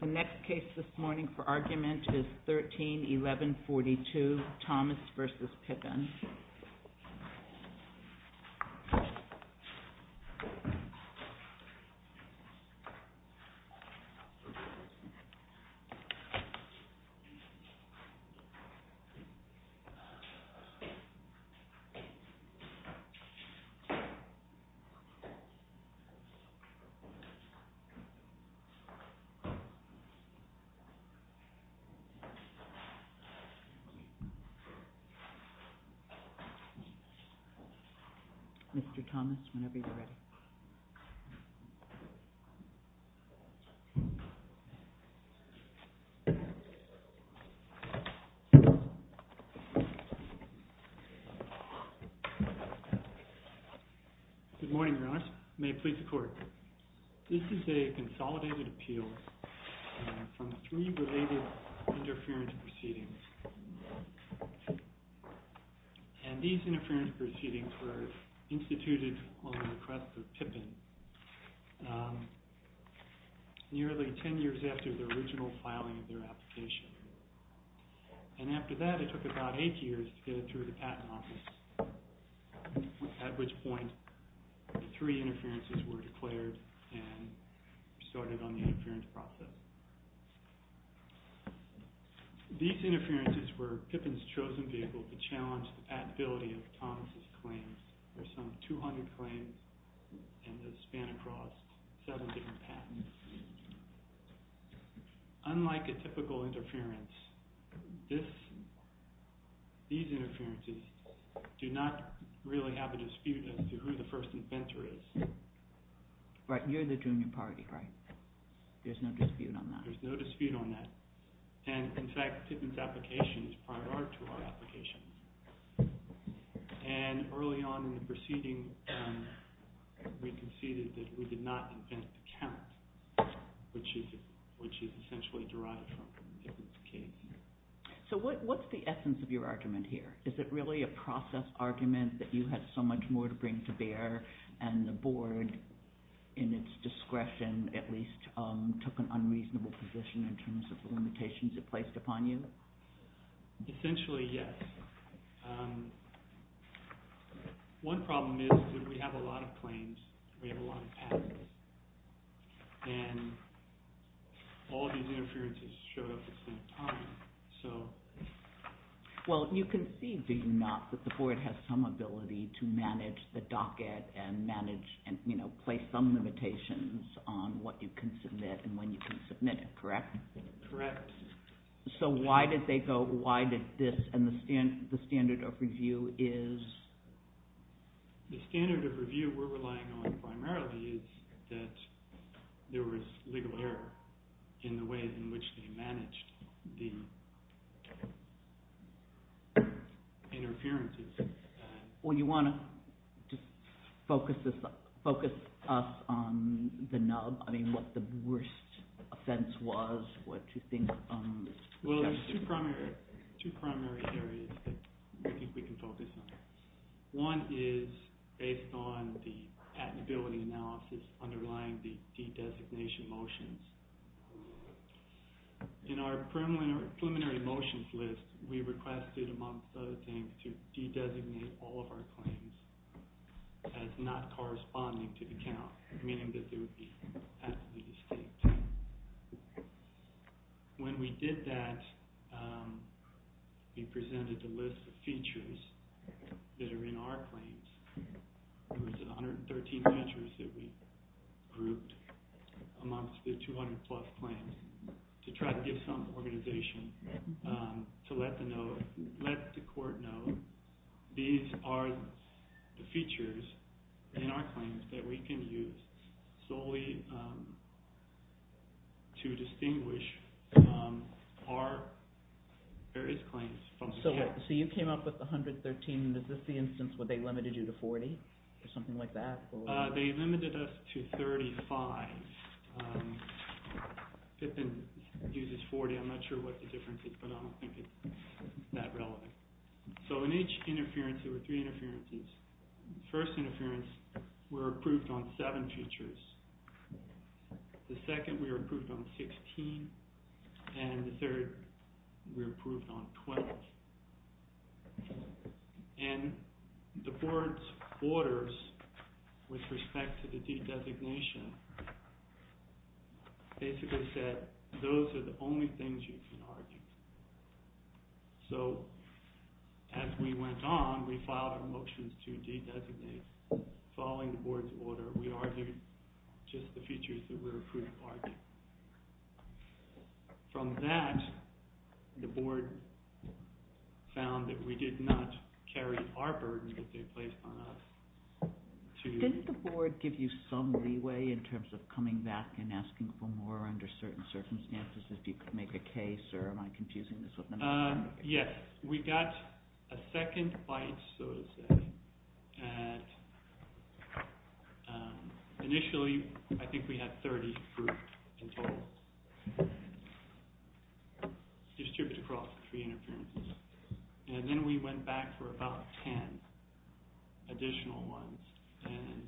The next case this morning for argument is 13-1142, Thomas v. Pippin. Thomas v. Pippin Mr. Thomas, whenever you're ready. Good morning, Your Honor. May it please the Court. This is a consolidated appeal from three related interference proceedings. And these interference proceedings were instituted on the request of Pippin nearly ten years after the original filing of their application. And after that, it took about eight years to get it through the Patent Office, at which point three interferences were declared and started on the interference process. These interferences were Pippin's chosen vehicle to challenge the Patability of Thomas' claims. There are some 200 claims and they span across seven different patents. Unlike a typical interference, these interferences do not really have a dispute as to who the first inventor is. But you're the junior party, right? There's no dispute on that? There's no dispute on that. And in fact, Pippin's application is prior to our application. And early on in the proceeding, we conceded that we did not invent the count, which is essentially derived from Pippin's case. So what's the essence of your argument here? Is it really a process argument that you had so much more to bring to bear and the Board, in its discretion, at least, took an unreasonable position in terms of the limitations it placed upon you? Essentially, yes. One problem is that we have a lot of claims, we have a lot of patents, and all these interferences showed up at the same time. Well, you conceded, did you not, that the Board has some ability to manage the docket and place some limitations on what you can submit and when you can submit it, correct? Correct. So why did they go, why did this, and the standard of review is? The standard of review we're relying on primarily is that there was legal error in the ways in which they managed the interferences. Well, you want to just focus us on the nub, I mean, what the worst offense was, what you think... Well, there's two primary areas that I think we can focus on. One is based on the patentability analysis underlying the de-designation motions. In our preliminary motions list, we requested, among other things, to de-designate all of our claims as not corresponding to the count, meaning that they would be patently distinct. When we did that, we presented the list of features that are in our claims. There was 113 measures that we grouped amongst the 200 plus claims to try to give some organization to let the court know these are the features in our claims that we can use solely to distinguish our various claims from the count. So you came up with 113, and is this the instance where they limited you to 40, or something like that? They limited us to 35. Pippin uses 40, I'm not sure what the difference is, but I don't think it's that relevant. So in each interference, there were three interferences. The first interference, we were approved on seven features. The second we were approved on 16, and the third we were approved on 12. And the board's orders with respect to the de-designation basically said those are the only things you can argue. So as we went on, we filed a motion to de-designate. Following the board's order, we argued just the features that we were approved on. From that, the board found that we did not carry our burden that they placed on us. Did the board give you some leeway in terms of coming back and asking for more under certain circumstances if you could make a case, or am I confusing this with another case? Yes. We got a second bite, so to say. Initially, I think we had 30 approved in total. Distributed across the three interferences. And then we went back for about 10 additional ones,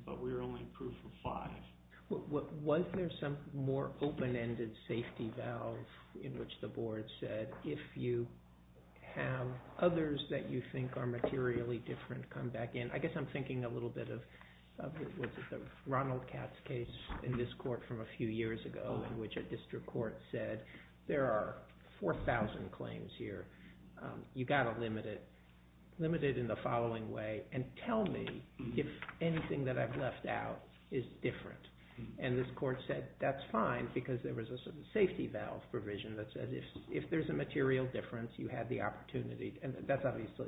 but we were only approved for five. Was there some more open-ended safety valve in which the board said, if you have others that you think are materially different, come back in? I guess I'm thinking a little bit of the Ronald Katz case in this court from a few years ago, in which a district court said, there are 4,000 claims here. You've got to limit it. Limit it in the following way. And tell me if anything that I've left out is different. And this court said, that's fine, because there was a safety valve provision that said, if there's a material difference, you had the opportunity. And that's obviously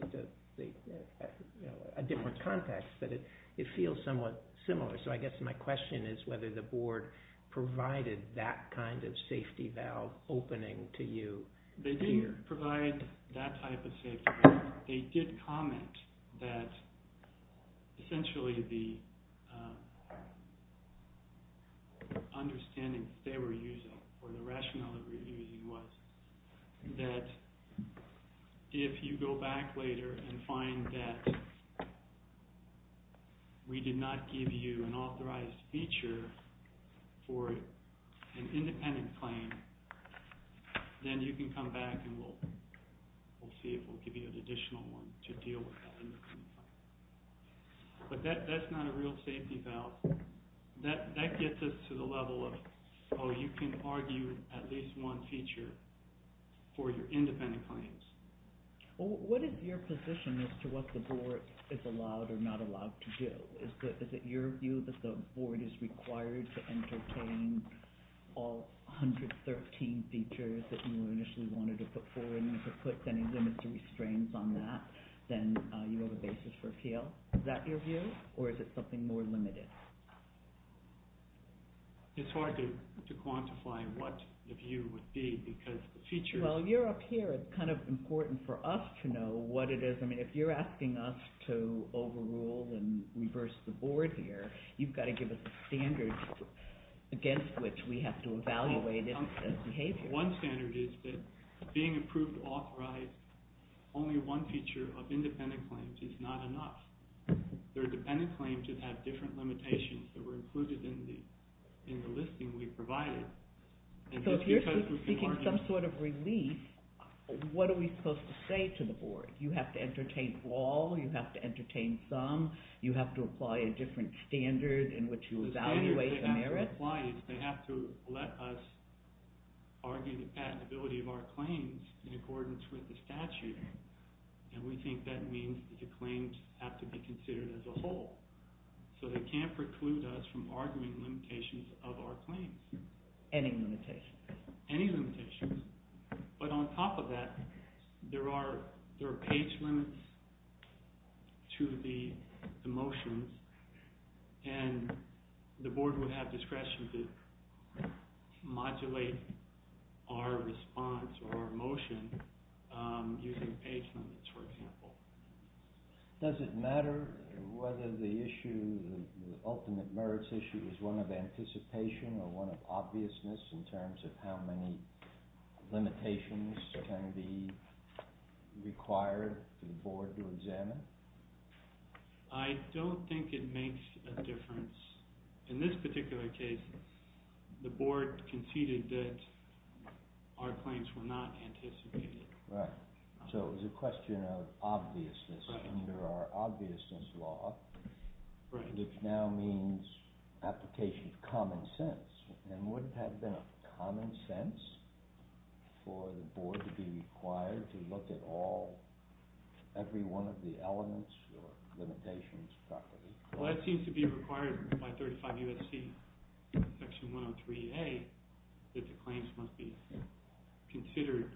a different context, but it feels somewhat similar. So I guess my question is whether the board provided that kind of safety valve opening to you. They didn't provide that type of safety valve. However, they did comment that essentially the understanding that they were using, or the rationale that they were using was that if you go back later and find that we did not give you an authorized feature for an independent claim, then you can come back and we'll see if we'll give you an additional one to deal with that independent claim. But that's not a real safety valve. That gets us to the level of, oh, you can argue at least one feature for your independent claims. What is your position as to what the board is allowed or not allowed to do? Is it your view that the board is required to entertain all 113 features that you initially wanted to put forward? And if it puts any limits or restraints on that, then you have a basis for appeal. Is that your view, or is it something more limited? It's hard to quantify what the view would be, because the features... Well, you're up here. It's kind of important for us to know what it is. I mean, if you're asking us to overrule and reverse the board here, you've got to give us a standard against which we have to evaluate its behavior. One standard is that being approved authorized, only one feature of independent claims is not enough. There are dependent claims that have different limitations that were included in the listing we provided. So if you're seeking some sort of relief, what are we supposed to say to the board? You have to entertain all? You have to entertain some? You have to apply a different standard in which you evaluate the merits? The standard they have to apply is they have to let us argue the patentability of our claims in accordance with the statute. And we think that means that the claims have to be considered as a whole. So they can't preclude us from arguing limitations of our claims. Any limitations? Any limitations. But on top of that, there are page limits to the motions, and the board would have discretion to modulate our response or motion using page limits, for example. Does it matter whether the ultimate merits issue is one of anticipation or one of obviousness in terms of how many limitations can be required for the board to examine? I don't think it makes a difference. In this particular case, the board conceded that our claims were not anticipated. Right. So it was a question of obviousness under our obviousness law, which now means application of common sense. And would it have been common sense for the board to be required to look at all, every one of the elements or limitations properly? Well, that seems to be required by 35 U.S.C. Section 103A that the claims must be considered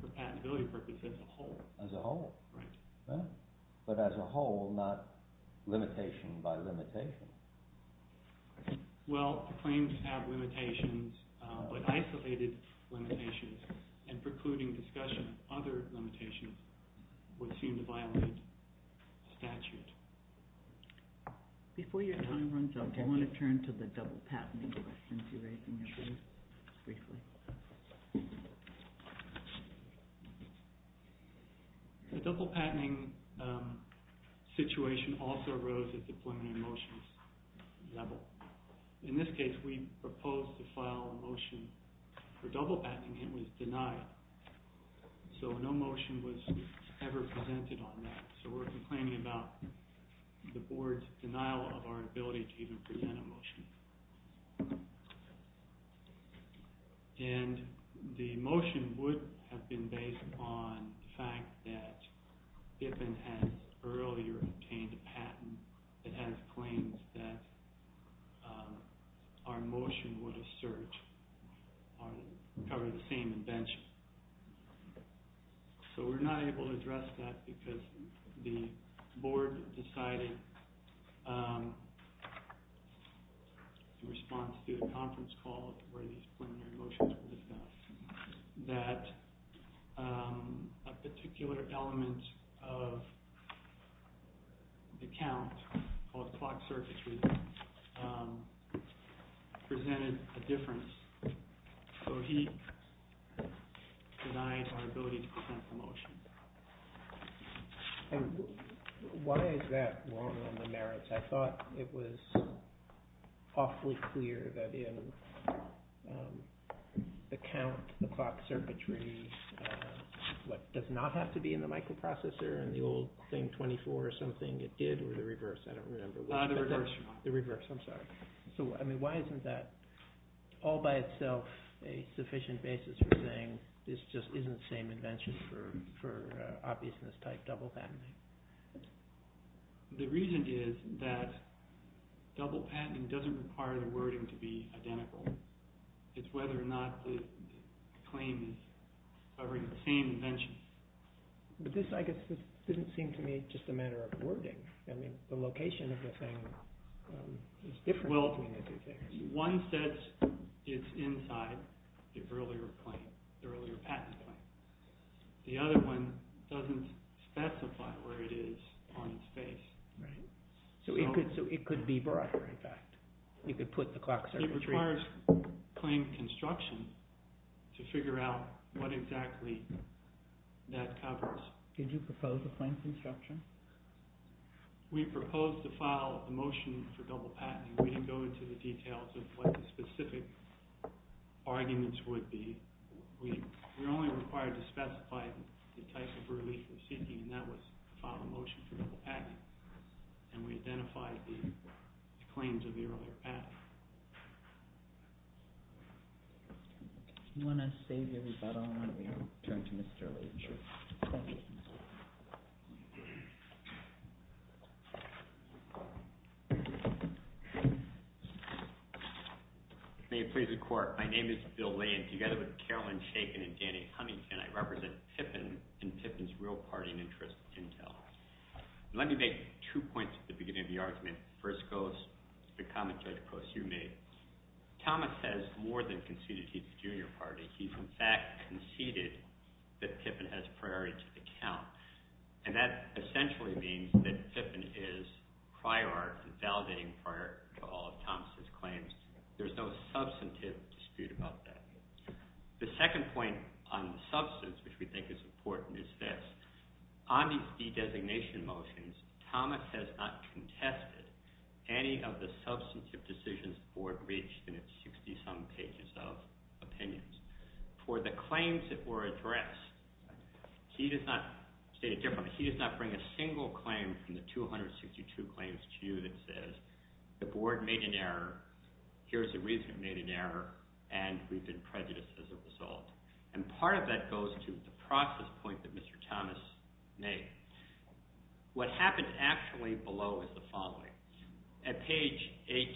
for patentability purposes as a whole. As a whole. Right. But as a whole, not limitation by limitation. Well, claims have limitations, but isolated limitations and precluding discussion of other limitations would seem to violate statute. Before your time runs out, I want to turn to the double-patenting question. Sure. Briefly. The double-patenting situation also arose at the preliminary motions level. In this case, we proposed to file a motion for double-patenting. It was denied. So no motion was ever presented on that. So we're complaining about the board's denial of our ability to even present a motion. And the motion would have been based on the fact that we had earlier obtained a patent that had a claim that our motion would assert or cover the same invention. So we're not able to address that because the board decided in response to a conference call where these preliminary motions were discussed that a particular element of the count, called clock circuitry, presented a difference. So he denied our ability to present the motion. And why is that wrong on the merits? I thought it was awfully clear that in the count, the clock circuitry, what does not have to be in the microprocessor in the old claim 24 or something, it did, or the reverse, I don't remember. The reverse. The reverse, I'm sorry. So, I mean, why isn't that all by itself a sufficient basis for saying this just isn't the same invention for obviousness-type double-patenting? The reason is that double-patenting doesn't require the wording to be identical. It's whether or not the claim is covering the same invention. But this, I guess, didn't seem to me just a matter of wording. I mean, the location of the thing is different. Well, one says it's inside the earlier patent claim. The other one doesn't specify where it is on its face. Right. So it could be broader, in fact. You could put the clock circuitry. It requires claim construction to figure out what exactly that covers. Did you propose a claim construction? We proposed to file a motion for double-patenting. We didn't go into the details of what the specific arguments would be. We were only required to specify the type of relief we're seeking, and that was to file a motion for double-patenting. And we identified the claims of the earlier patent. If you want to save your rebuttal, why don't we turn to Mr. Lane? Sure. Thank you. May it please the Court, my name is Bill Lane. Together with Carolyn Shakin and Danny Huntington, I represent Pippin and Pippin's real party and interest in Intel. Let me make two points at the beginning of the argument. The first goes to the comment you made. Thomas has more than conceded he's a junior party. He's, in fact, conceded that Pippin has priority to the count, and that essentially means that Pippin is prior art and validating prior art to all of Thomas' claims. There's no substantive dispute about that. The second point on the substance, which we think is important, is this. On these de-designation motions, Thomas has not contested any of the substantive decisions the Board reached in its 60-some pages of opinions. For the claims that were addressed, he does not state it differently. He does not bring a single claim from the 262 claims to you that says the Board made an error, here's the reason it made an error, and we've been prejudiced as a result. Part of that goes to the process point that Mr. Thomas made. What happens actually below is the following. At page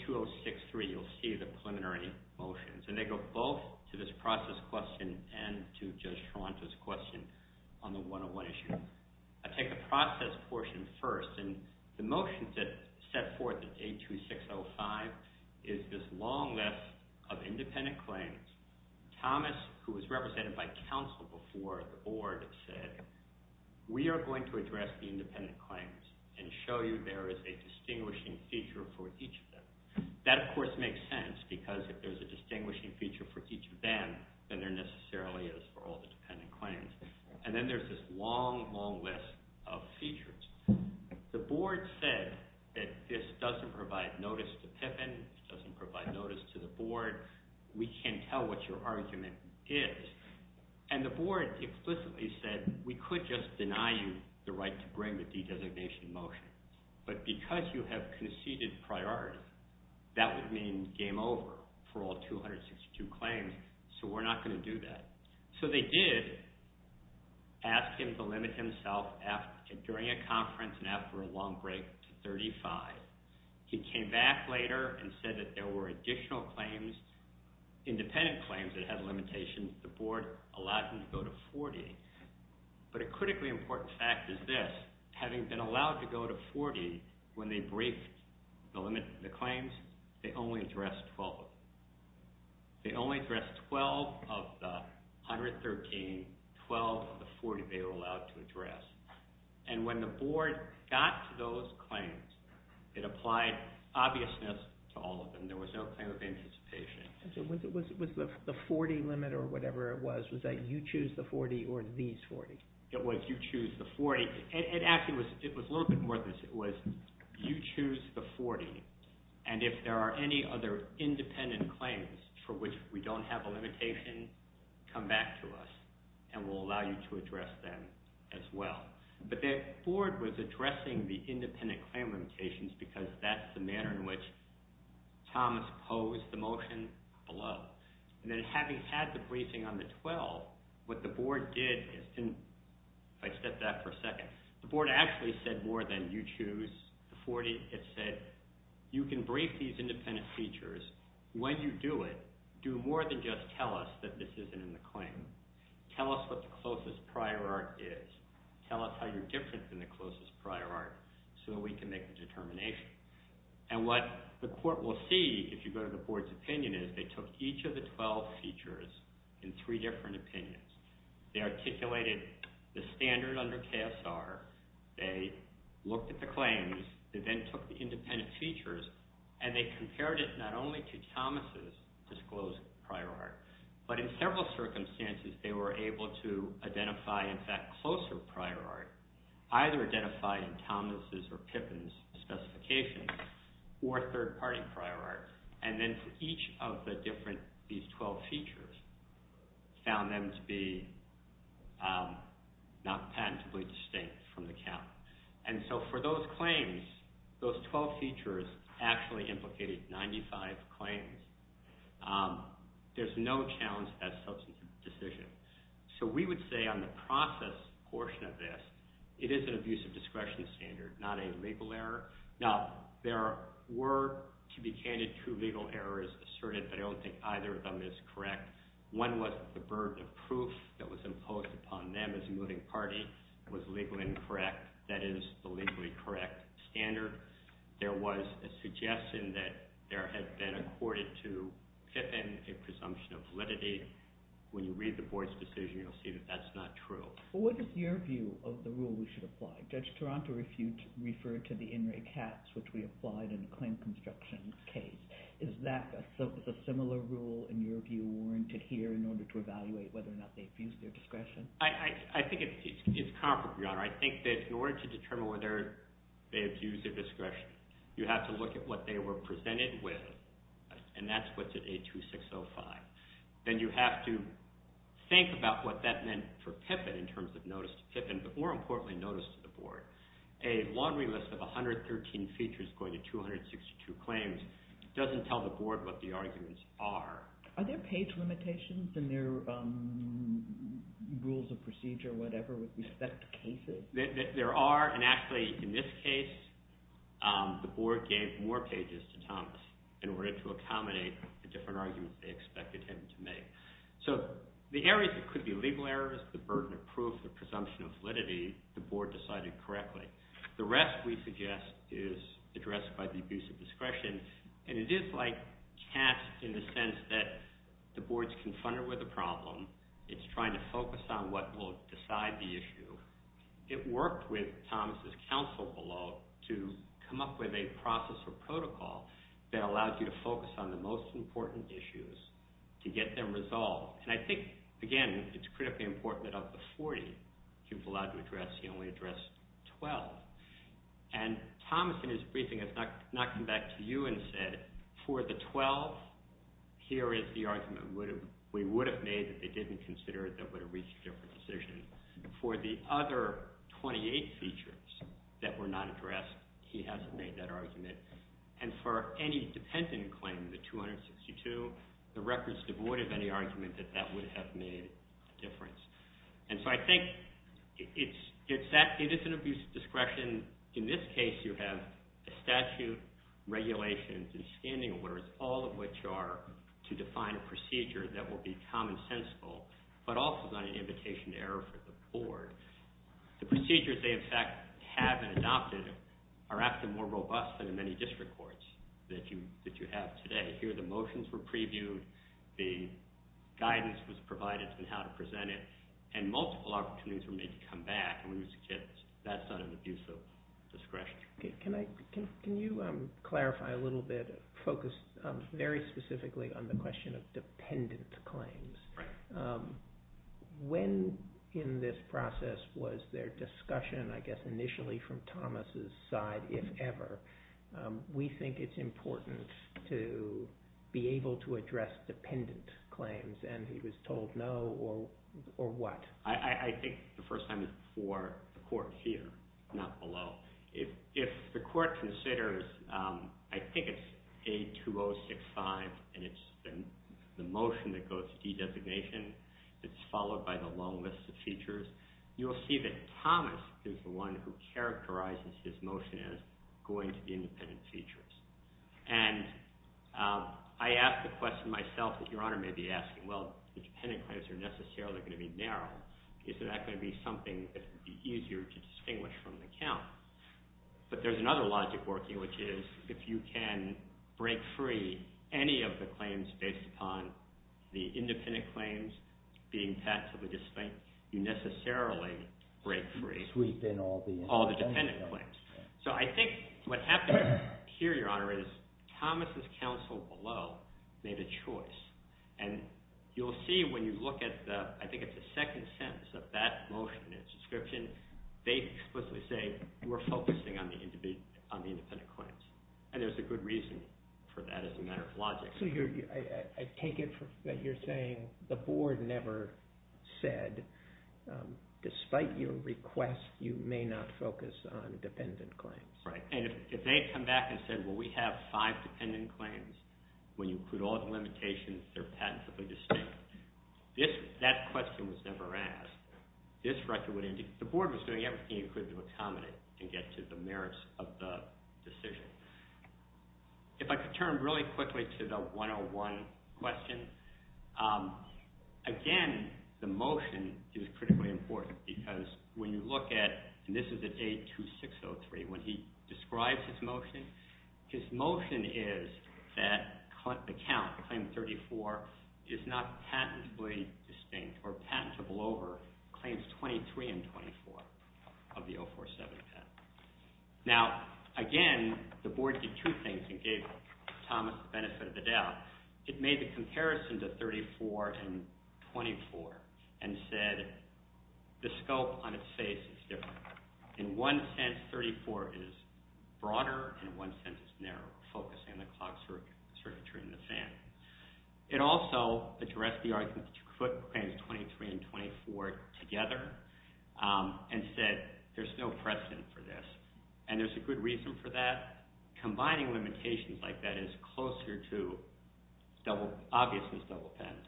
82063, you'll see the preliminary motions, and they go both to this process question and to Judge Toronto's question on the 101 issue. I take the process portion first. The motions that set forth at 82605 is this long list of independent claims. Thomas, who was represented by counsel before the Board, said, we are going to address the independent claims and show you there is a distinguishing feature for each of them. That, of course, makes sense because if there's a distinguishing feature for each of them, then there necessarily is for all the dependent claims. Then there's this long, long list of features. The Board said that this doesn't provide notice to Pippin. It doesn't provide notice to the Board. We can't tell what your argument is. The Board explicitly said we could just deny you the right to bring the designation motion, but because you have conceded priority, that would mean game over for all 262 claims, so we're not going to do that. So they did ask him to limit himself during a conference and after a long break to 35. He came back later and said that there were additional claims, independent claims, that had limitations. The Board allowed him to go to 40. But a critically important fact is this. Having been allowed to go to 40 when they briefed the claims, they only addressed 12. They only addressed 12 of the 113, 12 of the 40 they were allowed to address. When the Board got to those claims, it applied obviousness to all of them. There was no claim of anticipation. Was it the 40 limit or whatever it was? Was that you choose the 40 or these 40? It was you choose the 40. Actually, it was a little bit more than this. It was you choose the 40. And if there are any other independent claims for which we don't have a limitation, come back to us and we'll allow you to address them as well. But the Board was addressing the independent claim limitations because that's the manner in which Thomas posed the motion below. And then having had the briefing on the 12, what the Board did is – if I step back for a second, the Board actually said more than you choose the 40. It said you can brief these independent features. When you do it, do more than just tell us that this isn't in the claim. Tell us what the closest prior art is. Tell us how you're different than the closest prior art so that we can make a determination. And what the Court will see if you go to the Board's opinion is they took each of the 12 features in three different opinions. They articulated the standard under KSR. They looked at the claims. They then took the independent features and they compared it not only to Thomas' disclosed prior art, but in several circumstances they were able to identify, in fact, closer prior art, either identifying Thomas' or Pippin's specifications or third-party prior art. And then for each of the different – these 12 features, found them to be not patentably distinct from the count. And so for those claims, those 12 features actually implicated 95 claims. There's no challenge to that substantive decision. So we would say on the process portion of this, it is an abuse of discretion standard, not a legal error. Now, there were, to be candid, two legal errors asserted, but I don't think either of them is correct. One was the burden of proof that was imposed upon them as a moving party was legally incorrect. That is the legally correct standard. There was a suggestion that there had been accorded to Pippin a presumption of validity. When you read the board's decision, you'll see that that's not true. Well, what is your view of the rule we should apply? Judge Taranto referred to the in-ray caps, which we applied in the claim construction case. Is that a similar rule in your view warranted here in order to evaluate whether or not they abused their discretion? I think it's comparable, Your Honor. I think that in order to determine whether they abused their discretion, you have to look at what they were presented with, and that's what's at A2605. Then you have to think about what that meant for Pippin in terms of notice to Pippin, but more importantly notice to the board. A laundry list of 113 features going to 262 claims doesn't tell the board what the arguments are. Are there page limitations in their rules of procedure, whatever, with respect to cases? There are, and actually in this case, the board gave more pages to Thomas in order to accommodate the different arguments they expected him to make. So the areas that could be legal errors, the burden of proof, the presumption of validity, the board decided correctly. The rest, we suggest, is addressed by the abuse of discretion, and it is like cash in the sense that the board's confronted with a problem, it's trying to focus on what will decide the issue. It worked with Thomas' counsel below to come up with a process or protocol that allowed you to focus on the most important issues to get them resolved. And I think, again, it's critically important that up to 40 he was allowed to address, he only addressed 12. And Thomas, in his briefing, has not come back to you and said, for the 12, here is the argument we would have made that they didn't consider that would have reached a different decision. For the other 28 features that were not addressed, he hasn't made that argument. And for any dependent claim, the 262, the record's devoid of any argument that that would have made a difference. And so I think it is an abuse of discretion. In this case, you have a statute, regulations, and standing orders, all of which are to define a procedure that will be commonsensical, but also not an invitation to error for the board. The procedures they, in fact, have adopted are actually more robust than in many district courts that you have today. Here, the motions were previewed, the guidance was provided on how to present it, and multiple opportunities were made to come back, and that's not an abuse of discretion. Can you clarify a little bit, focus very specifically on the question of dependent claims? Right. When in this process was there discussion, I guess initially from Thomas' side, if ever, we think it's important to be able to address dependent claims, and he was told no, or what? I think the first time is for the court here, not below. If the court considers, I think it's A2065, and it's the motion that goes to de-designation that's followed by the long list of features, you'll see that Thomas is the one who characterizes his motion as going to the independent features. And I ask the question myself that Your Honor may be asking, well, the dependent claims are necessarily going to be narrow. Is that going to be something that would be easier to distinguish from the count? But there's another logic working, which is, if you can break free any of the claims based upon the independent claims being tactfully distinct, you necessarily break free all the dependent claims. So I think what happened here, Your Honor, is Thomas' counsel below made a choice. And you'll see when you look at the, I think it's the second sentence of that motion, its description, they explicitly say we're focusing on the independent claims. And there's a good reason for that as a matter of logic. So I take it that you're saying the board never said, despite your request, you may not focus on dependent claims. Right, and if they had come back and said, well, we have five dependent claims. When you include all the limitations, they're patently distinct. That question was never asked. The board was doing everything it could to accommodate and get to the merits of the decision. If I could turn really quickly to the 101 question. Again, the motion is critically important because when you look at, and this is at A2603, when he describes his motion, his motion is that the count, claim 34, is not patently distinct or patentable over claims 23 and 24 of the 047 patent. Now, again, the board did two things and gave Thomas the benefit of the doubt. It made the comparison to 34 and 24 and said the scope on its face is different. In one sense, 34 is broader. In one sense, it's narrower, focusing on the clock circuitry and the fan. It also addressed the argument to put claims 23 and 24 together and said there's no precedent for this. And there's a good reason for that. Combining limitations like that is closer to obviousness double patenting.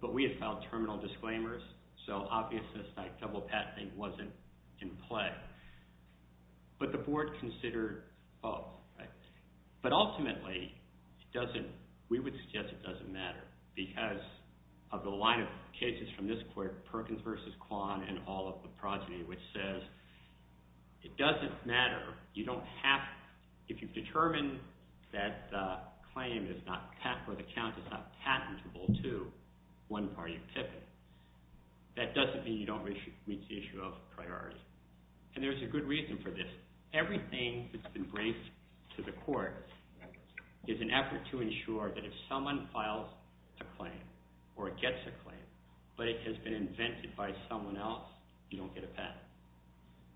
But we have filed terminal disclaimers, so obviousness double patenting wasn't in play. But the board considered both. But ultimately, we would suggest it doesn't matter because of the line of cases from this court, Perkins v. Kwan and all of the progeny, which says it doesn't matter. If you've determined that the claim or the count is not patentable to one party pipit, that doesn't mean you don't reach the issue of priority. And there's a good reason for this. Everything that's been braced to the court is an effort to ensure that if someone files a claim or gets a claim, but it has been invented by someone else, you don't get a patent.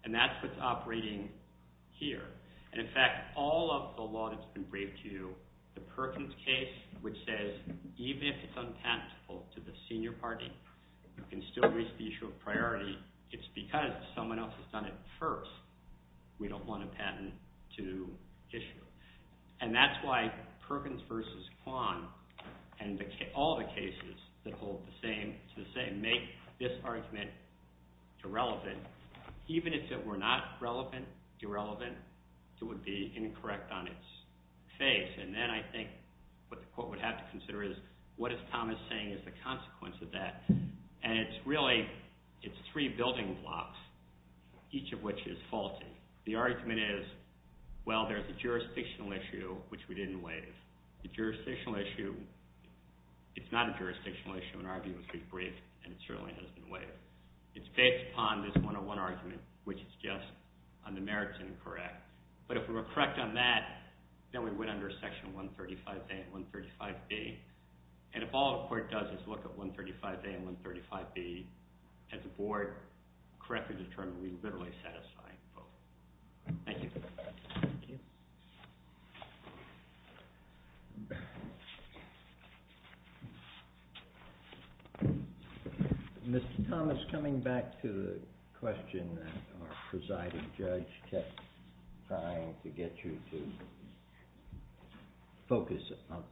And that's what's operating here. And in fact, all of the law that's been braced to you, the Perkins case, which says even if it's unpatentable to the senior party, you can still reach the issue of priority. It's because someone else has done it first. We don't want a patent to issue. And that's why Perkins v. Kwan and all the cases that hold the same to the same make this argument irrelevant. Even if it were not relevant, irrelevant, it would be incorrect on its face. And then I think what the court would have to consider is what is Thomas saying is the consequence of that? And it's really, it's three building blocks, each of which is faulty. The argument is, well, there's a jurisdictional issue, which we didn't waive. The jurisdictional issue, it's not a jurisdictional issue in our view, it's very brief, and it certainly hasn't been waived. It's based upon this 101 argument, which is just on the merits incorrect. But if we were correct on that, then we went under section 135A and 135B. And if all the court does is look at 135A and 135B, has the board correctly determined we literally satisfy both? Thank you. Thank you. Mr. Thomas, coming back to the question that our presiding judge kept trying to get you to focus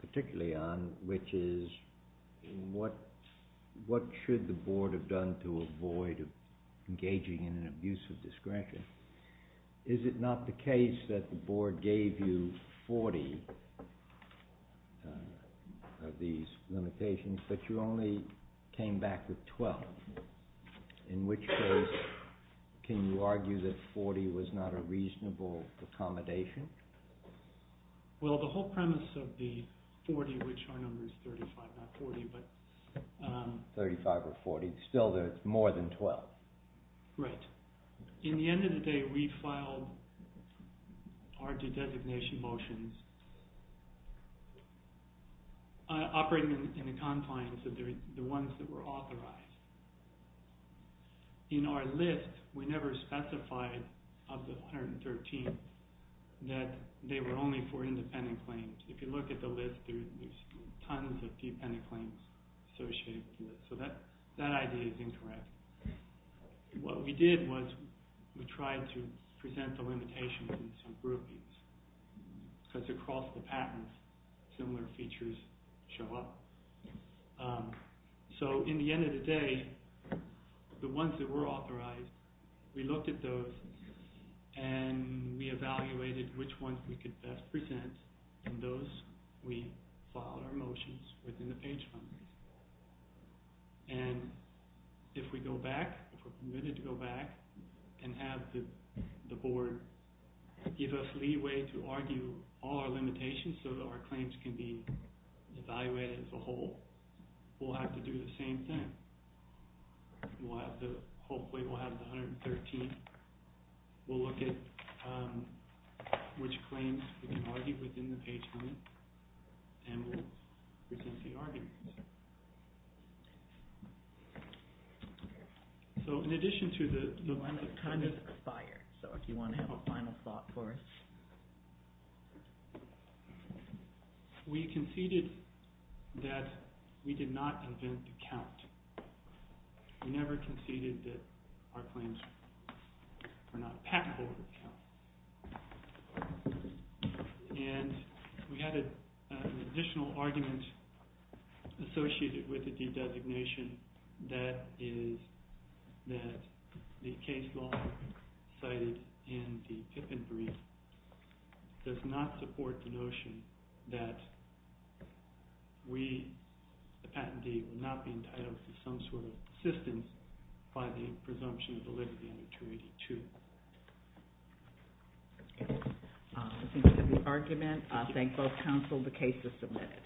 particularly on, which is what should the board have done to avoid engaging in an abuse of discretion? Is it not the case that the board gave you 40 of these limitations, but you only came back with 12? In which case, can you argue that 40 was not a reasonable accommodation? Well, the whole premise of the 40, which our number is 35, not 40, but. 35 or 40. Still, there's more than 12. Right. In the end of the day, we filed our due designation motions operating in the confines of the ones that were authorized. In our list, we never specified of the 113 that they were only for independent claims. If you look at the list, there's tons of independent claims associated with it. So that idea is incorrect. What we did was we tried to present the limitations in some groupings. Because across the patterns, similar features show up. So in the end of the day, the ones that were authorized, we looked at those. And we evaluated which ones we could best present. And those, we filed our motions within the page funders. And if we go back, if we're permitted to go back and have the board give us leeway to argue all our limitations so that our claims can be evaluated as a whole, we'll have to do the same thing. Hopefully, we'll have the 113. We'll look at which claims we can argue within the page funders. And we'll present the arguments. So in addition to the limits of kindness. Time has expired. So if you want to have a final thought for us. We conceded that we did not invent the count. We never conceded that our claims were not packable with the count. And we had an additional argument associated with the de-designation. That is that the case law cited in the Pippin brief does not support the notion that we, the patentee, will not be entitled to some sort of assistance by the presumption of validity under 282. This concludes the argument. I thank both counsel. The case is submitted.